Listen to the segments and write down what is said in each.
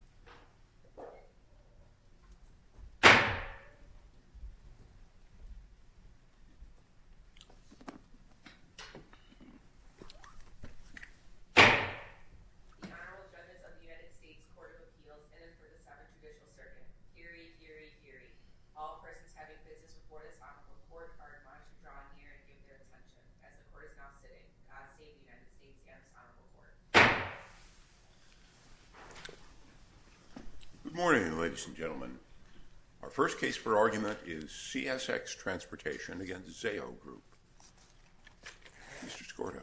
The Honorable Judges of the United States Court of Appeals in and for the Southern Judicial Circuit. Eerie, eerie, eerie. All persons having business before the Sonoma Court are advised to draw near and give their attention. As the Court is now sitting, God save the United States and Sonoma Court. Good morning, ladies and gentlemen. Our first case for argument is CSX Transportation v. Zayo Group. Mr. Skorda.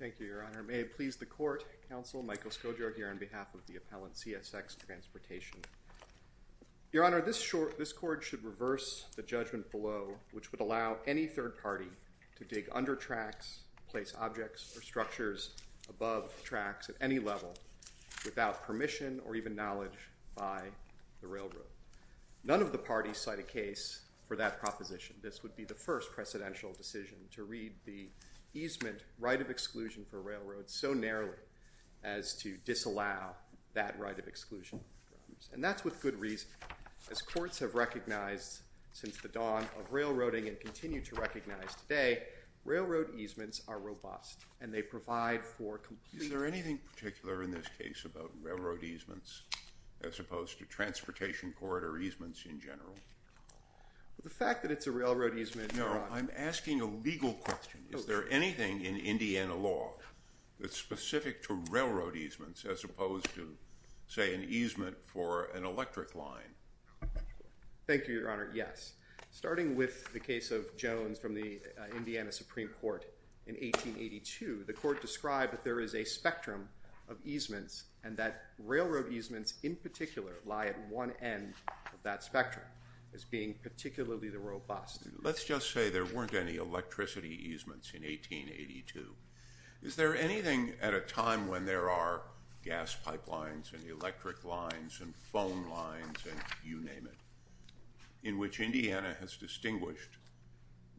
Thank you, Your Honor. May it please the Court, Counsel Michael Skorda here on behalf of the appellant CSX Transportation. Your Honor, this Court should reverse the judgment below which would allow any third party to dig under tracks, place objects or structures above tracks at any level without permission or even knowledge by the railroad. None of the parties cite a case for that proposition. This would be the first precedential decision to read the easement right of exclusion for railroads so narrowly as to disallow that right of exclusion. And that's with good reason. As courts have recognized since the dawn of railroading and continue to recognize today, railroad easements are robust and they provide for complete… The fact that it's a railroad easement… No, I'm asking a legal question. Is there anything in Indiana law that's specific to railroad easements as opposed to, say, an easement for an electric line? Thank you, Your Honor. Yes. Starting with the case of Jones from the Indiana Supreme Court in 1882, the Court described that there is a spectrum of easements and that railroad easements in particular lie at one end of that spectrum as being particularly robust. Let's just say there weren't any electricity easements in 1882. Is there anything at a time when there are gas pipelines and electric lines and phone lines and you name it in which Indiana has distinguished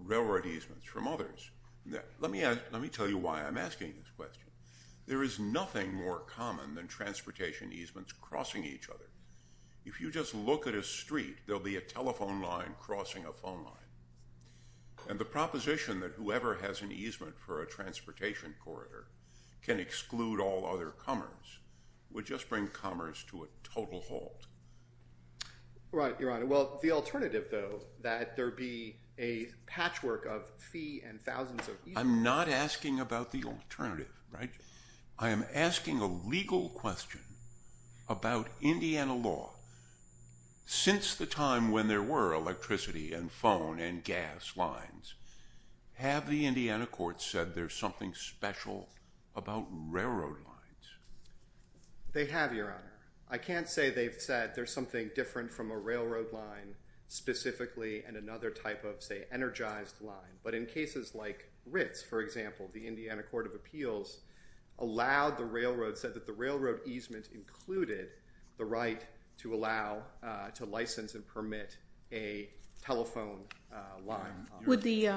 railroad easements from others? Let me tell you why I'm asking this question. There is nothing more common than transportation easements crossing each other. If you just look at a street, there will be a telephone line crossing a phone line. And the proposition that whoever has an easement for a transportation corridor can exclude all other comers would just bring comers to a total halt. Right, Your Honor. Well, the alternative, though, that there be a patchwork of fee and thousands of easements… I'm not asking about the alternative, right? I am asking a legal question about Indiana law. Since the time when there were electricity and phone and gas lines, have the Indiana courts said there's something special about railroad lines? They have, Your Honor. I can't say they've said there's something different from a railroad line specifically and another type of, say, energized line. But in cases like Ritz, for example, the Indiana Court of Appeals said that the railroad easement included the right to license and permit a telephone line. Would the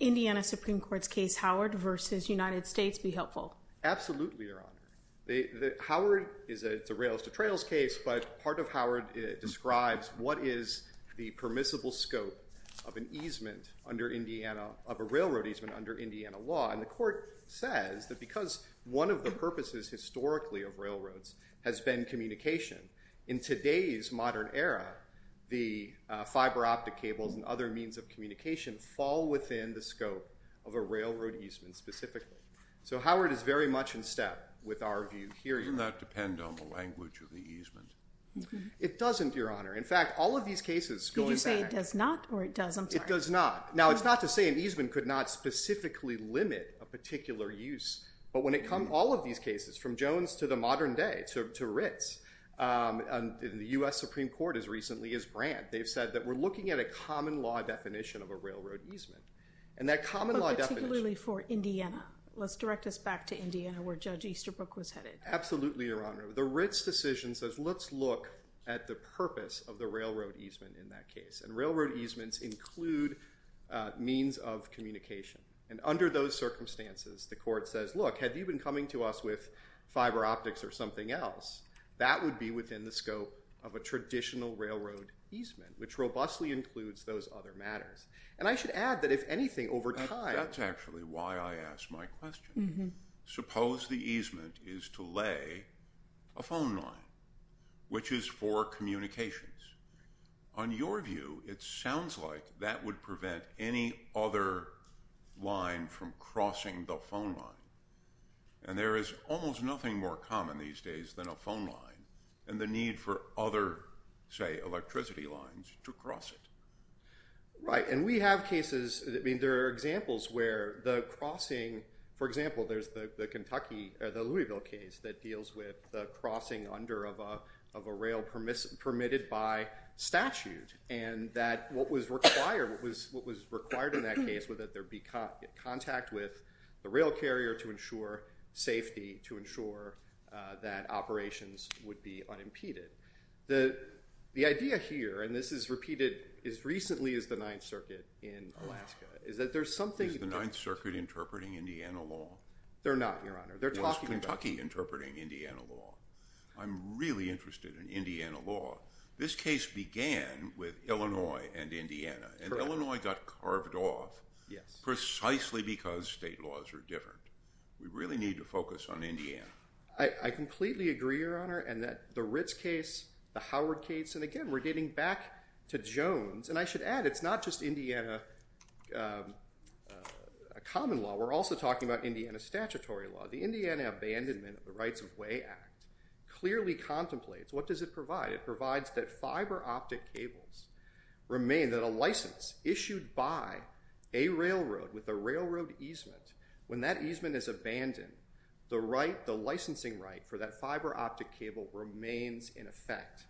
Indiana Supreme Court's case Howard v. United States be helpful? Absolutely, Your Honor. Howard is a rails-to-trails case, but part of Howard describes what is the permissible scope of a railroad easement under Indiana law. And the court says that because one of the purposes historically of railroads has been communication, in today's modern era, the fiber optic cables and other means of communication fall within the scope of a railroad easement specifically. So Howard is very much in step with our view here. Doesn't that depend on the language of the easement? It doesn't, Your Honor. In fact, all of these cases going back… Did you say it does not or it does? I'm sorry. It does not. Now, it's not to say an easement could not specifically limit a particular use, but when it comes… all of these cases, from Jones to the modern day, to Ritz, and the U.S. Supreme Court as recently as Brandt, they've said that we're looking at a common law definition of a railroad easement. But particularly for Indiana. Let's direct us back to Indiana where Judge Easterbrook was headed. Absolutely, Your Honor. The Ritz decision says, let's look at the purpose of the railroad easement in that case. And railroad easements include means of communication. And under those circumstances, the court says, look, have you been coming to us with fiber optics or something else? That would be within the scope of a traditional railroad easement, which robustly includes those other matters. And I should add that if anything, over time… That's actually why I asked my question. Suppose the easement is to lay a phone line, which is for communications. On your view, it sounds like that would prevent any other line from crossing the phone line. And there is almost nothing more common these days than a phone line and the need for other, say, electricity lines to cross it. Right. And we have cases… I mean, there are examples where the crossing… For example, there's the Louisville case that deals with the crossing under of a rail permitted by statute. And what was required in that case was that there be contact with the rail carrier to ensure safety, to ensure that operations would be unimpeded. The idea here, and this is repeated as recently as the Ninth Circuit in Alaska, is that there's something… Is the Ninth Circuit interpreting Indiana law? They're not, Your Honor. They're talking about… Or is Kentucky interpreting Indiana law? I'm really interested in Indiana law. This case began with Illinois and Indiana, and Illinois got carved off precisely because state laws are different. We really need to focus on Indiana. I completely agree, Your Honor, and that the Ritz case, the Howard case, and again, we're getting back to Jones. And I should add, it's not just Indiana common law. We're also talking about Indiana statutory law. The Indiana Abandonment of the Rights of Way Act clearly contemplates what does it provide. It provides that fiber optic cables remain that a license issued by a railroad with a railroad easement, when that easement is abandoned, the licensing right for that fiber optic cable remains in effect.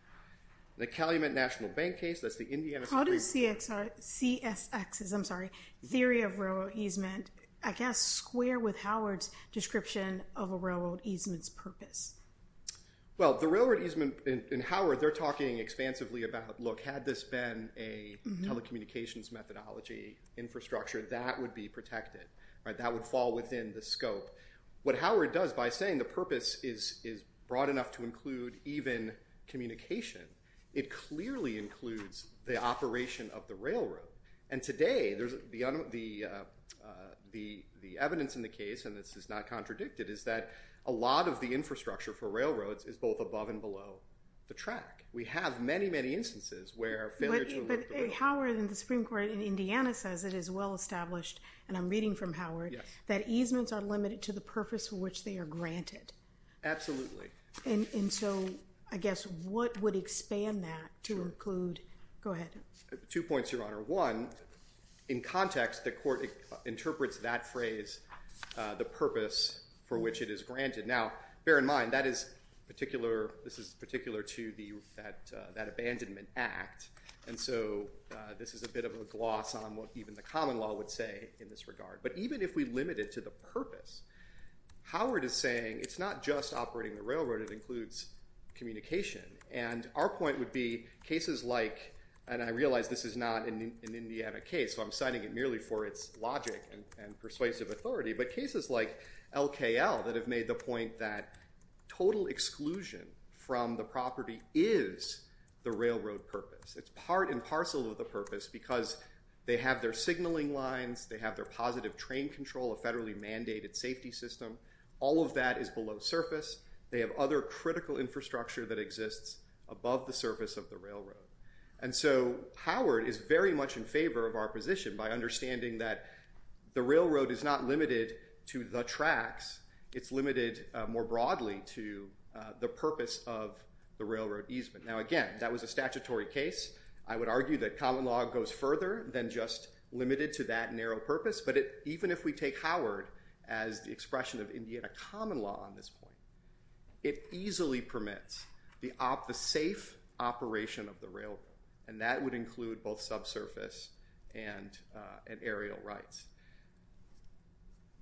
The Calumet National Bank case, that's the Indiana… How does CSX's theory of railroad easement, I guess, square with Howard's description of a railroad easement's purpose? Well, the railroad easement in Howard, they're talking expansively about, look, had this been a telecommunications methodology infrastructure, that would be protected. That would fall within the scope. What Howard does by saying the purpose is broad enough to include even communication, it clearly includes the operation of the railroad. And today, the evidence in the case, and this is not contradicted, is that a lot of the infrastructure for railroads is both above and below the track. We have many, many instances where… But Howard and the Supreme Court in Indiana says it is well established, and I'm reading from Howard, that easements are limited to the purpose for which they are granted. Absolutely. And so, I guess, what would expand that to include… Sure. Go ahead. Two points, Your Honor. One, in context, the court interprets that phrase, the purpose for which it is granted. Now, bear in mind, this is particular to that abandonment act, and so this is a bit of a gloss on what even the common law would say in this regard. But even if we limit it to the purpose, Howard is saying it's not just operating the railroad, it includes communication. And our point would be cases like, and I realize this is not an Indiana case, so I'm citing it merely for its logic and persuasive authority, but cases like LKL that have made the point that total exclusion from the property is the railroad purpose. It's part and parcel of the purpose because they have their signaling lines, they have their positive train control, a federally mandated safety system. All of that is below surface. They have other critical infrastructure that exists above the surface of the railroad. And so, Howard is very much in favor of our position by understanding that the railroad is not limited to the tracks. It's limited more broadly to the purpose of the railroad easement. Now, again, that was a statutory case. I would argue that common law goes further than just limited to that narrow purpose, but even if we take Howard as the expression of Indiana common law on this point, it easily permits the safe operation of the railroad. And that would include both subsurface and aerial rights.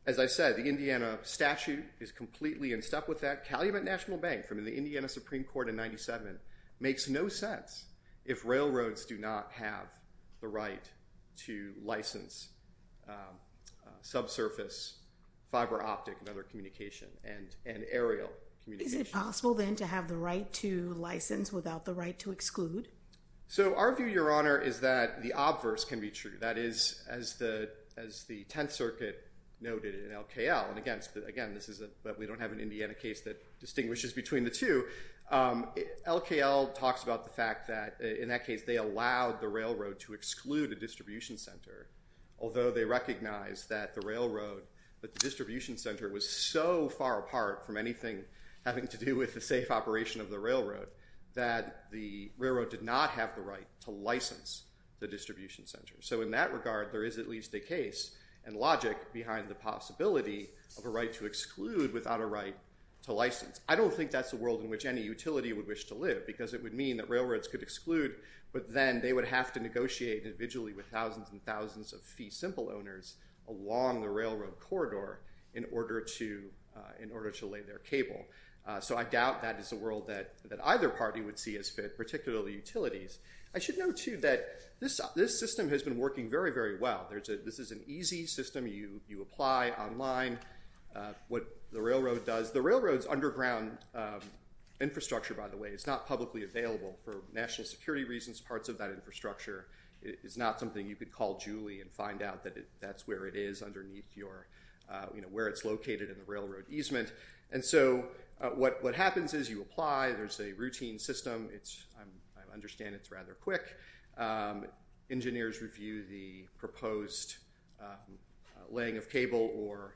As I said, the Indiana statute is completely in step with that. Calumet National Bank from the Indiana Supreme Court in 97 makes no sense if railroads do not have the right to license subsurface fiber optic and other communication and aerial communication. Is it possible then to have the right to license without the right to exclude? So, our view, Your Honor, is that the obverse can be true. That is, as the Tenth Circuit noted in LKL, and again, we don't have an Indiana case that distinguishes between the two. LKL talks about the fact that, in that case, they allowed the railroad to exclude a distribution center, although they recognize that the distribution center was so far apart from anything having to do with the safe operation of the railroad that the railroad did not have the right to license the distribution center. So, in that regard, there is at least a case and logic behind the possibility of a right to exclude without a right to license. I don't think that's a world in which any utility would wish to live because it would mean that railroads could exclude, but then they would have to negotiate individually with thousands and thousands of fee simple owners along the railroad corridor in order to lay their cable. So, I doubt that is a world that either party would see as fit, particularly utilities. I should note, too, that this system has been working very, very well. This is an easy system. You apply online what the railroad does. The railroad's underground infrastructure, by the way, is not publicly available for national security reasons. Parts of that infrastructure is not something you could call Julie and find out that that's where it is underneath your, you know, where it's located in the railroad easement. And so, what happens is you apply. There's a routine system. I understand it's rather quick. Engineers review the proposed laying of cable or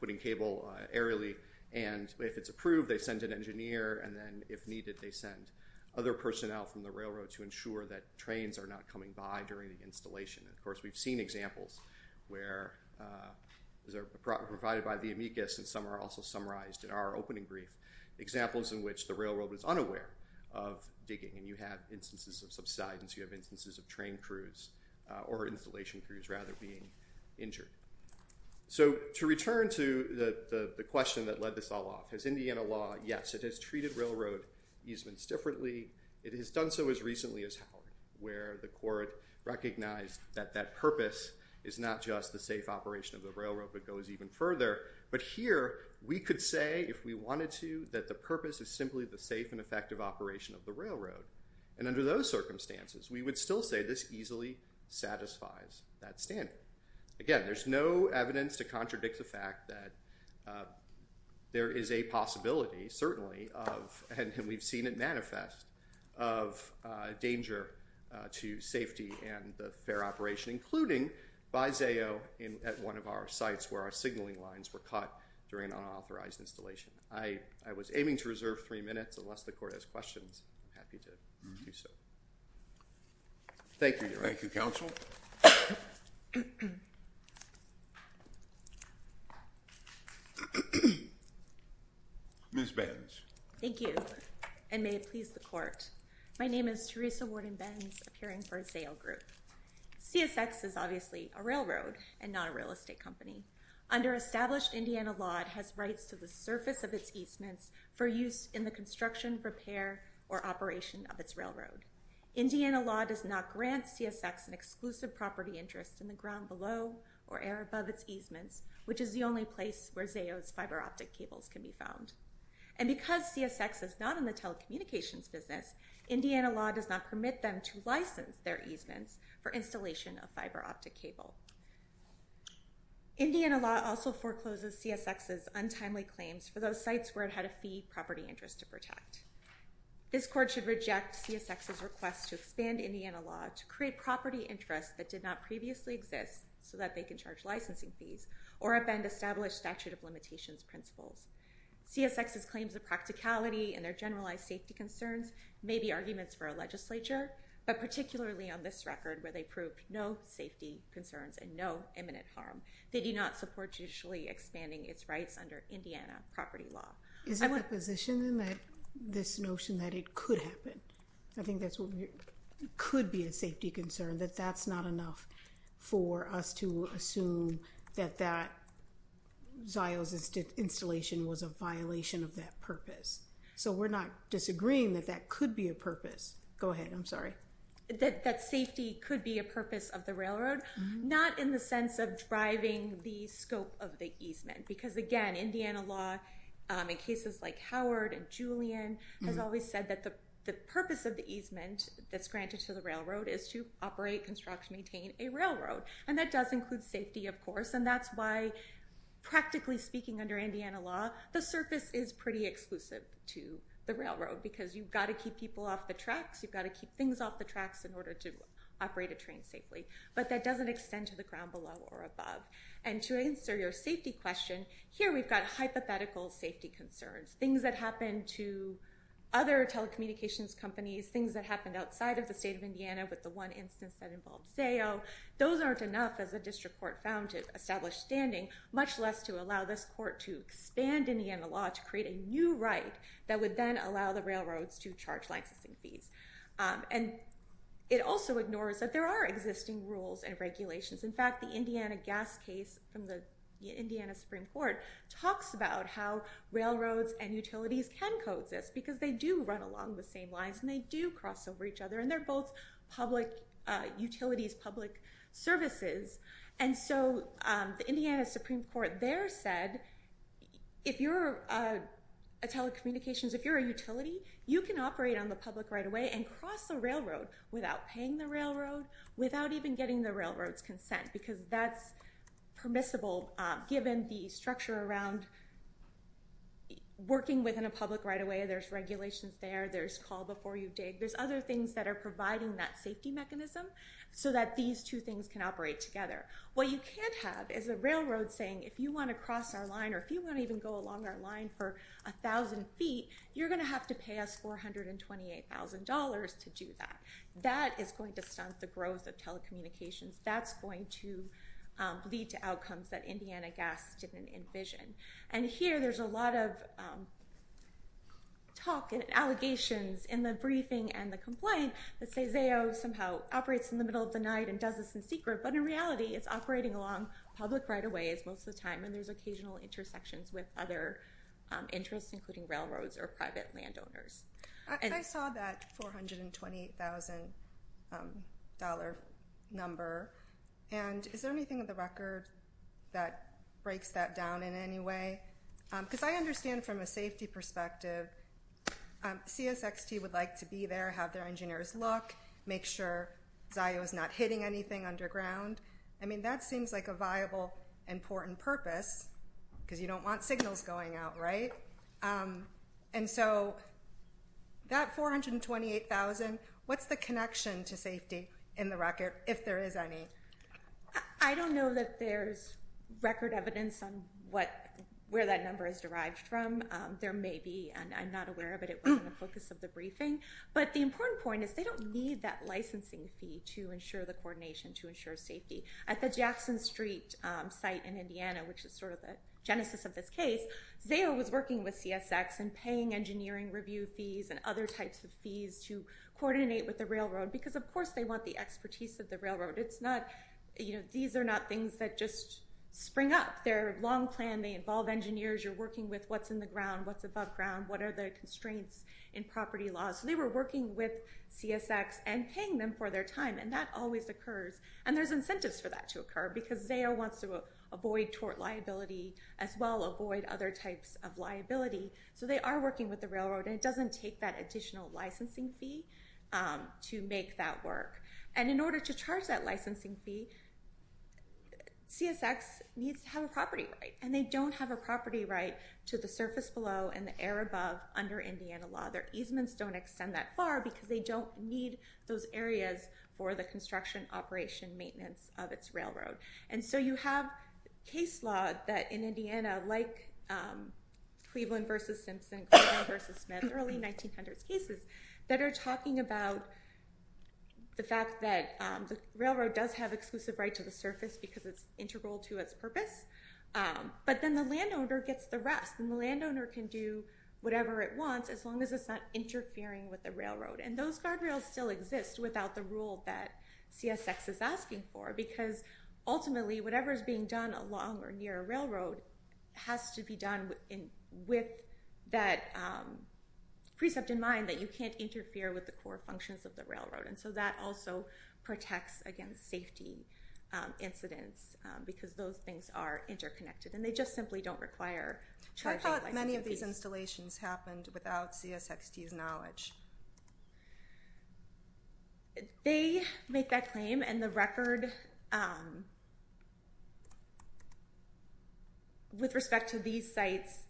putting cable aerially, and if it's approved, they send an engineer, and then, if needed, they send other personnel from the railroad to ensure that trains are not coming by during the installation. And, of course, we've seen examples where, as provided by the amicus, and some are also summarized in our opening brief, examples in which the railroad is unaware of digging, and you have instances of subsidence. You have instances of train crews or installation crews, rather, being injured. So, to return to the question that led this all off, has Indiana law, yes, it has treated railroad easements differently. It has done so as recently as Howard, where the court recognized that that purpose is not just the safe operation of the railroad, but goes even further. But here, we could say, if we wanted to, that the purpose is simply the safe and effective operation of the railroad. And under those circumstances, we would still say this easily satisfies that standard. Again, there's no evidence to contradict the fact that there is a possibility, certainly, and we've seen it manifest, of danger to safety and the fair operation, including by ZAO at one of our sites where our signaling lines were cut during an unauthorized installation. I was aiming to reserve three minutes. Unless the court has questions, I'm happy to do so. Thank you, Your Honor. Thank you, counsel. Ms. Benz. Thank you, and may it please the court. My name is Teresa Warden Benz, appearing for ZAO Group. CSX is obviously a railroad and not a real estate company. Under established Indiana law, it has rights to the surface of its easements for use in the construction, repair, or operation of its railroad. Indiana law does not grant CSX an exclusive property interest in the ground below or air above its easements, which is the only place where ZAO's fiber optic cables can be found. And because CSX is not in the telecommunications business, Indiana law does not permit them to license their easements for installation of fiber optic cable. Indiana law also forecloses CSX's untimely claims for those sites where it had a fee property interest to protect. This court should reject CSX's request to expand Indiana law to create property interests that did not previously exist so that they can charge licensing fees or offend established statute of limitations principles. CSX's claims of practicality and their generalized safety concerns may be arguments for a legislature, but particularly on this record where they prove no safety concerns and no imminent harm. They do not support judicially expanding its rights under Indiana property law. Is it a position then that this notion that it could happen, I think that could be a safety concern, that that's not enough for us to assume that that ZAO's installation was a violation of that purpose. So we're not disagreeing that that could be a purpose. Go ahead, I'm sorry. That safety could be a purpose of the railroad, not in the sense of driving the scope of the easement. Because again, Indiana law in cases like Howard and Julian has always said that the purpose of the easement that's granted to the railroad is to operate, construct, maintain a railroad. And that does include safety, of course, and that's why practically speaking under Indiana law, the surface is pretty exclusive to the railroad because you've got to keep people off the tracks, you've got to keep things off the tracks in order to operate a train safely. But that doesn't extend to the ground below or above. And to answer your safety question, here we've got hypothetical safety concerns. Things that happened to other telecommunications companies, things that happened outside of the state of Indiana with the one instance that involved ZAO, those aren't enough as a district court found to establish standing, much less to allow this court to expand Indiana law to create a new right that would then allow the railroads to charge licensing fees. And it also ignores that there are existing rules and regulations. In fact, the Indiana gas case from the Indiana Supreme Court talks about how railroads and utilities can coexist because they do run along the same lines and they do cross over each other and they're both public utilities, public services. And so the Indiana Supreme Court there said, if you're a telecommunications, if you're a utility, you can operate on the public right-of-way and cross the railroad without paying the railroad, without even getting the railroad's consent because that's permissible given the structure around working within a public right-of-way. There's regulations there. There's call before you dig. There's other things that are providing that safety mechanism so that these two things can operate together. What you can't have is a railroad saying, if you want to cross our line or if you want to even go along our line for 1,000 feet, you're going to have to pay us $428,000 to do that. That is going to stunt the growth of telecommunications. That's going to lead to outcomes that Indiana gas didn't envision. And here there's a lot of talk and allegations in the briefing and the complaint that say ZAO somehow operates in the middle of the night and does this in secret, but in reality it's operating along public right-of-ways most of the time and there's occasional intersections with other interests including railroads or private landowners. I saw that $428,000 number and is there anything in the record that breaks that down in any way? Because I understand from a safety perspective CSXT would like to be there, have their engineers look, make sure ZAO is not hitting anything underground. I mean that seems like a viable important purpose because you don't want signals going out, right? And so that $428,000, what's the connection to safety in the record if there is any? I don't know that there's record evidence on where that number is derived from. There may be and I'm not aware of it. It wasn't the focus of the briefing. But the important point is they don't need that licensing fee to ensure the coordination to ensure safety. At the Jackson Street site in Indiana, which is sort of the genesis of this case, ZAO was working with CSX and paying engineering review fees and other types of fees to coordinate with the railroad. Because of course they want the expertise of the railroad. These are not things that just spring up. They're a long plan. They involve engineers. You're working with what's in the ground, what's above ground, what are the constraints in property laws. So they were working with CSX and paying them for their time and that always occurs. And there's incentives for that to occur because ZAO wants to avoid tort liability as well, avoid other types of liability. So they are working with the railroad and it doesn't take that additional licensing fee to make that work. And in order to charge that licensing fee, CSX needs to have a property right. And they don't have a property right to the surface below and the air above under Indiana law. Their easements don't extend that far because they don't need those areas for the construction, operation, maintenance of its railroad. And so you have case law that in Indiana, like Cleveland v. Simpson, Cleveland v. Smith, early 1900s cases, that are talking about the fact that the railroad does have exclusive right to the surface because it's integral to its purpose. But then the landowner gets the rest and the landowner can do whatever it wants as long as it's not interfering with the railroad. And those guardrails still exist without the rule that CSX is asking for because ultimately whatever is being done along or near a railroad has to be done with that precept in mind that you can't interfere with the core functions of the railroad. And so that also protects against safety incidents because those things are interconnected and they just simply don't require charging licensing fees. I thought many of these installations happened without CSXT's knowledge. They make that claim and the record with respect to these sites,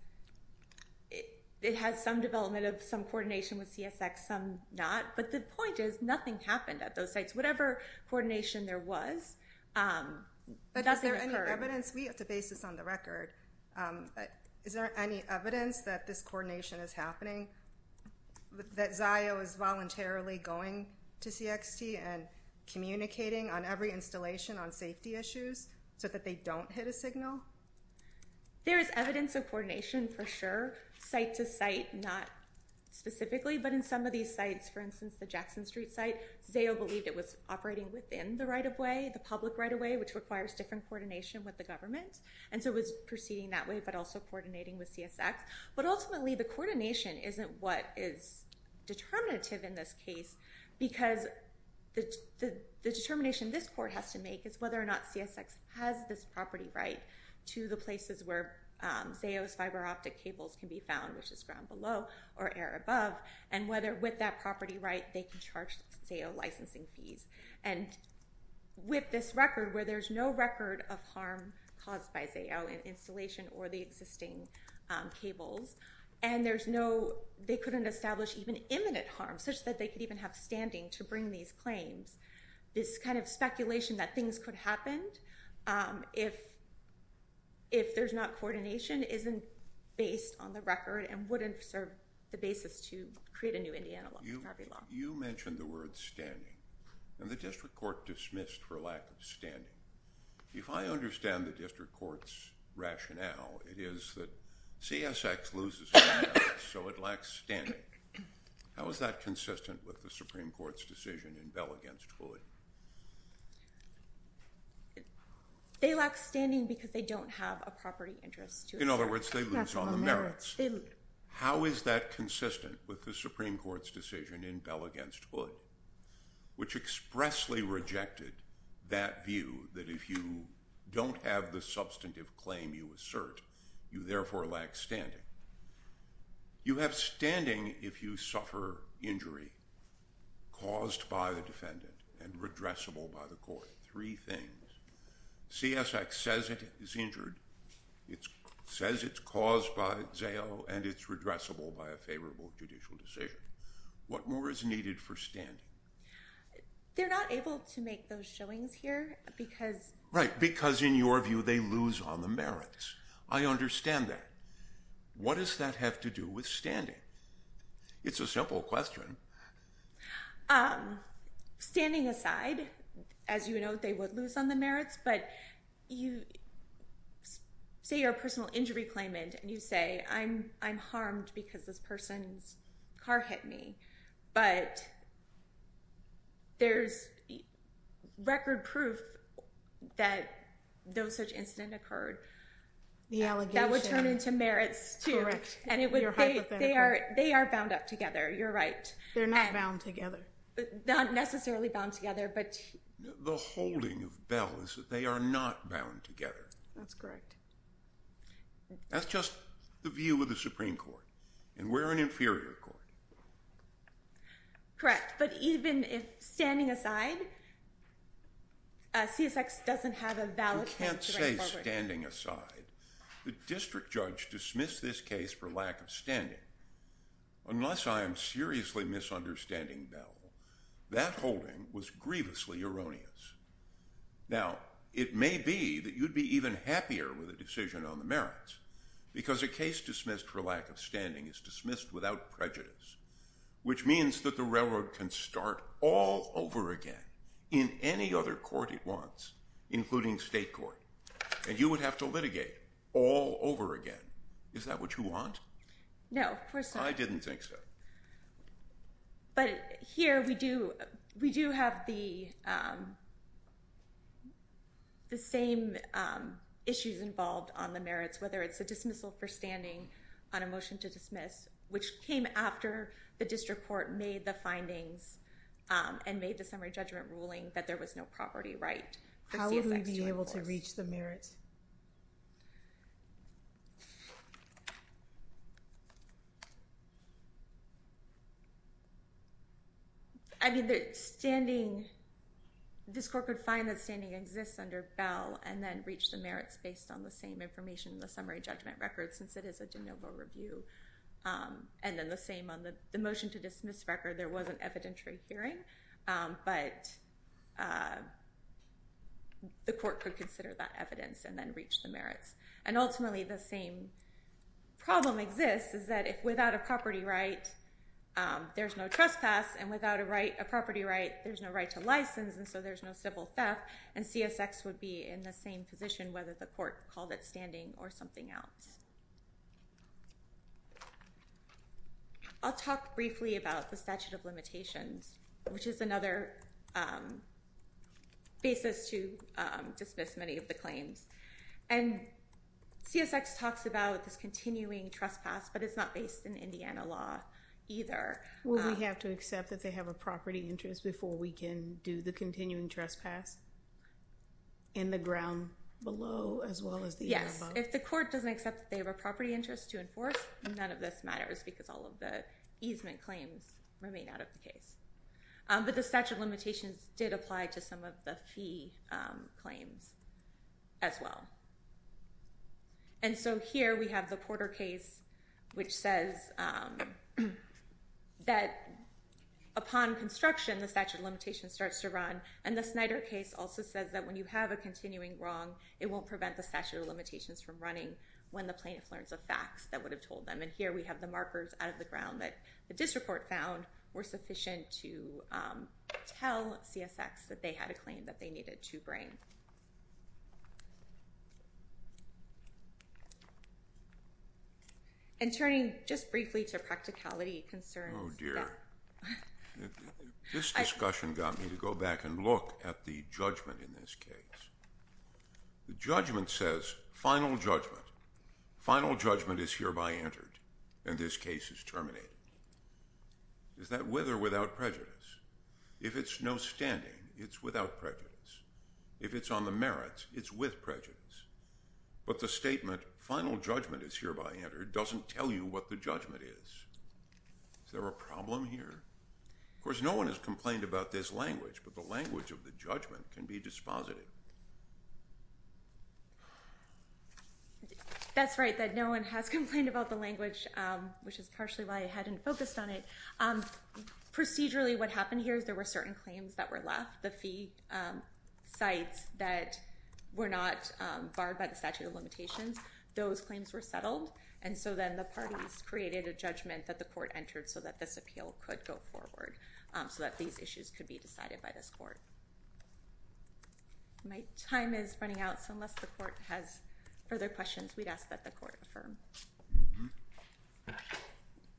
it has some development of some coordination with CSX, some not. But the point is nothing happened at those sites. Whatever coordination there was, nothing occurred. But is there any evidence? We have to base this on the record. Is there any evidence that this coordination is happening, that Zio is voluntarily going to CSXT and communicating on every installation on safety issues so that they don't hit a signal? There is evidence of coordination for sure. Site to site, not specifically. But in some of these sites, for instance, the Jackson Street site, Zio believed it was operating within the right of way, the public right of way, which requires different coordination with the government. And so it was proceeding that way but also coordinating with CSX. But ultimately the coordination isn't what is determinative in this case because the determination this court has to make is whether or not CSX has this property right to the places where Zio's fiber optic cables can be found, which is ground below or air above. And whether with that property right they can charge Zio licensing fees. And with this record where there's no record of harm caused by Zio installation or the existing cables. And there's no, they couldn't establish even imminent harm such that they could even have standing to bring these claims. This kind of speculation that things could happen if there's not coordination isn't based on the record and wouldn't serve the basis to create a new Indiana property law. You mentioned the word standing. And the district court dismissed for lack of standing. If I understand the district court's rationale, it is that CSX loses standing, so it lacks standing. How is that consistent with the Supreme Court's decision in Bell v. Floyd? They lack standing because they don't have a property interest to assert. In other words, they lose on the merits. How is that consistent with the Supreme Court's decision in Bell v. Floyd? Which expressly rejected that view that if you don't have the substantive claim you assert, you therefore lack standing. You have standing if you suffer injury caused by the defendant and redressable by the court. Three things. CSX says it is injured. It says it's caused by ZAO and it's redressable by a favorable judicial decision. What more is needed for standing? They're not able to make those showings here because... Right, because in your view they lose on the merits. I understand that. What does that have to do with standing? It's a simple question. Standing aside, as you know, they would lose on the merits. But say you're a personal injury claimant and you say, I'm harmed because this person's car hit me. But there's record proof that no such incident occurred. The allegation. That would turn into merits, too. Correct. You're hypothetical. They are bound up together. You're right. They're not bound together. Not necessarily bound together, but... The holding of Bell is that they are not bound together. That's correct. That's just the view of the Supreme Court. And we're an inferior court. Correct. But even if standing aside, CSX doesn't have a valid case to bring forward. You can't say standing aside. The district judge dismissed this case for lack of standing. Unless I am seriously misunderstanding Bell, that holding was grievously erroneous. Now, it may be that you'd be even happier with a decision on the merits. Because a case dismissed for lack of standing is dismissed without prejudice. Which means that the railroad can start all over again in any other court it wants, including state court. And you would have to litigate all over again. Is that what you want? No, of course not. I didn't think so. But here, we do have the same issues involved on the merits, whether it's a dismissal for standing on a motion to dismiss, which came after the district court made the findings and made the summary judgment ruling that there was no property right. How would we be able to reach the merits? I mean, this court could find that standing exists under Bell and then reach the merits based on the same information in the summary judgment record, since it is a de novo review. And then the same on the motion to dismiss record. There was an evidentiary hearing. But the court could consider that evidence and then reach the merits. And ultimately, the same problem exists is that if without a property right, there's no trespass. And without a property right, there's no right to license. And so there's no civil theft. And CSX would be in the same position, whether the court called it standing or something else. I'll talk briefly about the statute of limitations, which is another basis to dismiss many of the claims. And CSX talks about this continuing trespass. But it's not based in Indiana law either. Well, we have to accept that they have a property interest before we can do the continuing trespass in the ground below as well as the above. Yes. If the court doesn't accept that they have a property interest to enforce, none of this matters, because all of the easement claims remain out of the case. But the statute of limitations did apply to some of the fee claims as well. And so here we have the Porter case, which says that upon construction, the statute of limitations starts to run. And the Snyder case also says that when you have a continuing wrong, it won't prevent the statute of limitations from running when the plaintiff learns of facts that would have told them. And here we have the markers out of the ground that the district court found were sufficient to tell CSX that they had a claim that they needed to bring. And turning just briefly to practicality concerns. Oh, dear. This discussion got me to go back and look at the judgment in this case. The judgment says, final judgment. Final judgment is hereby entered, and this case is terminated. Is that with or without prejudice? If it's no standing, it's without prejudice. If it's on the merits, it's with prejudice. But the statement, final judgment is hereby entered, doesn't tell you what the judgment is. Is there a problem here? Of course, no one has complained about this language, but the language of the judgment can be dispositive. That's right, that no one has complained about the language, which is partially why I hadn't focused on it. Procedurally, what happened here is there were certain claims that were left. The fee sites that were not barred by the statute of limitations, those claims were settled. And so then the parties created a judgment that the court entered so that this appeal could go forward, so that these issues could be decided by this court. My time is running out, so unless the court has further questions, we'd ask that the court affirm.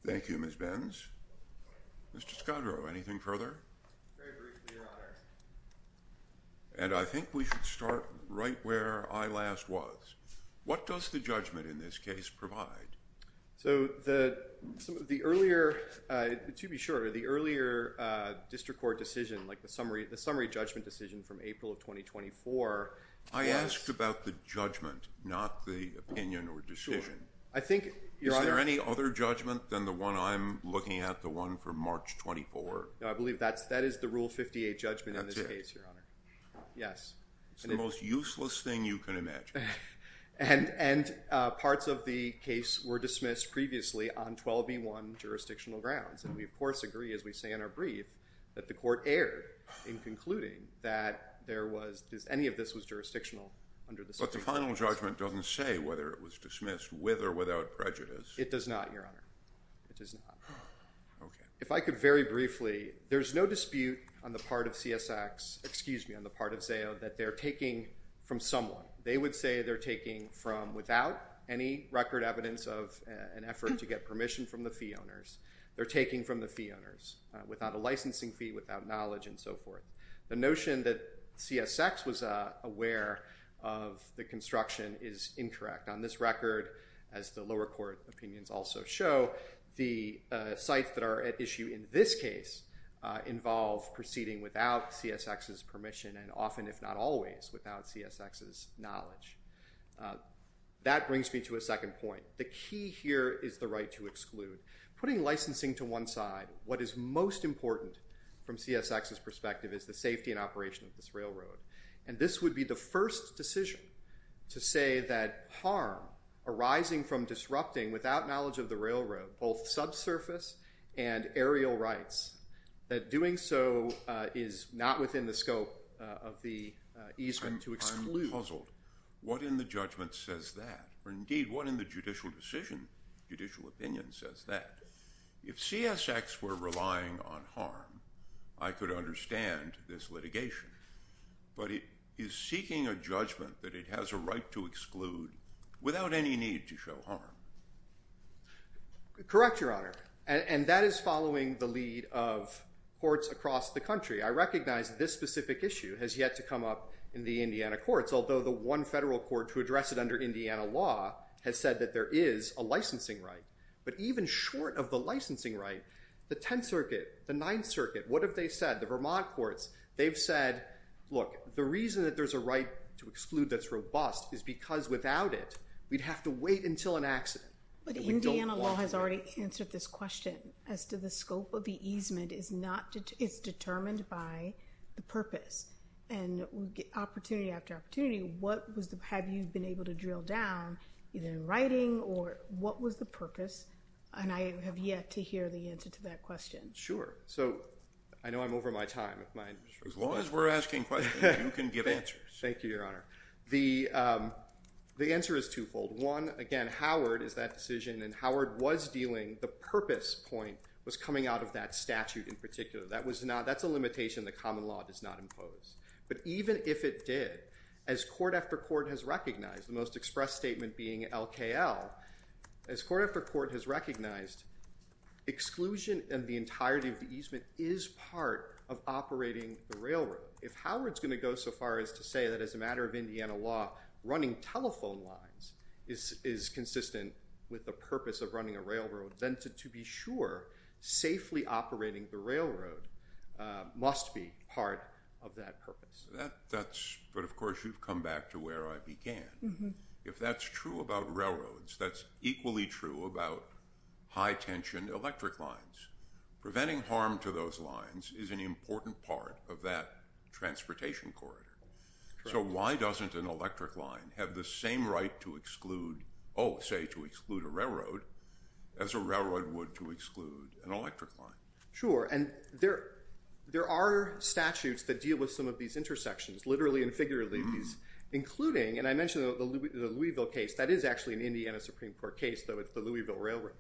Thank you, Ms. Benz. Mr. Scadro, anything further? Very briefly, Your Honor. And I think we should start right where I last was. What does the judgment in this case provide? To be sure, the earlier district court decision, like the summary judgment decision from April of 2024. I asked about the judgment, not the opinion or decision. Is there any other judgment than the one I'm looking at, the one from March 24? No, I believe that is the Rule 58 judgment in this case, Your Honor. Yes. It's the most useless thing you can imagine. And parts of the case were dismissed previously on 12b1 jurisdictional grounds. And we, of course, agree, as we say in our brief, that the court erred in concluding that any of this was jurisdictional under the statute of limitations. But the final judgment doesn't say whether it was dismissed with or without prejudice. It does not, Your Honor. It does not. If I could very briefly, there's no dispute on the part of CSX, excuse me, on the part of ZAO, that they're taking from someone. They would say they're taking from without any record evidence of an effort to get permission from the fee owners. They're taking from the fee owners without a licensing fee, without knowledge, and so forth. The notion that CSX was aware of the construction is incorrect. On this record, as the lower court opinions also show, the sites that are at issue in this case involve proceeding without CSX's permission and often, if not always, without CSX's knowledge. That brings me to a second point. The key here is the right to exclude. Putting licensing to one side, what is most important from CSX's perspective is the safety and operation of this railroad. And this would be the first decision to say that harm arising from disrupting, without knowledge of the railroad, both subsurface and aerial rights, that doing so is not within the scope of the easement to exclude. I'm puzzled. What in the judgment says that? Or indeed, what in the judicial decision, judicial opinion, says that? If CSX were relying on harm, I could understand this litigation. But it is seeking a judgment that it has a right to exclude without any need to show harm. Correct, Your Honor. And that is following the lead of courts across the country. I recognize this specific issue has yet to come up in the Indiana courts, although the one federal court to address it under Indiana law has said that there is a licensing right. But even short of the licensing right, the Tenth Circuit, the Ninth Circuit, what have they said? The Vermont courts, they've said, look, the reason that there's a right to exclude that's robust is because without it, we'd have to wait until an accident. But Indiana law has already answered this question as to the scope of the easement. It's determined by the purpose. And opportunity after opportunity, have you been able to drill down either in writing or what was the purpose? And I have yet to hear the answer to that question. Sure. So I know I'm over my time. As long as we're asking questions, you can give answers. Thank you, Your Honor. The answer is twofold. One, again, Howard is that decision. And Howard was dealing, the purpose point was coming out of that statute in particular. That's a limitation that common law does not impose. But even if it did, as court after court has recognized, the most expressed statement being LKL, as court after court has recognized, exclusion and the entirety of the easement is part of operating the railroad. If Howard's going to go so far as to say that as a matter of Indiana law, running telephone lines is consistent with the purpose of running a railroad, then to be sure, safely operating the railroad must be part of that purpose. But of course, you've come back to where I began. If that's true about railroads, that's equally true about high-tension electric lines. Preventing harm to those lines is an important part of that transportation corridor. So why doesn't an electric line have the same right to exclude, oh, say, to exclude a railroad as a railroad would to exclude an electric line? Sure. And there are statutes that deal with some of these intersections, literally and figuratively, including, and I mentioned the Louisville case. That is actually an Indiana Supreme Court case, though it's the Louisville Railroad.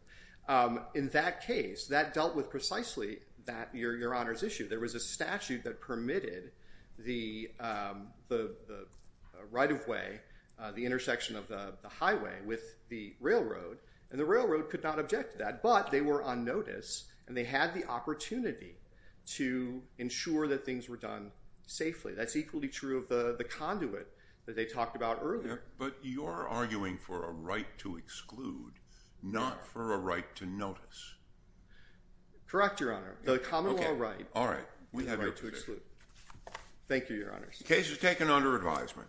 In that case, that dealt with precisely that, your Honor's issue. There was a statute that permitted the right-of-way, the intersection of the highway with the railroad, and the railroad could not object to that. But they were on notice, and they had the opportunity to ensure that things were done safely. That's equally true of the conduit that they talked about earlier. But you're arguing for a right to exclude, not for a right to notice. Correct, your Honor. The common law right. All right. We have your position. The right to exclude. Thank you, your Honor. The case is taken under advisement.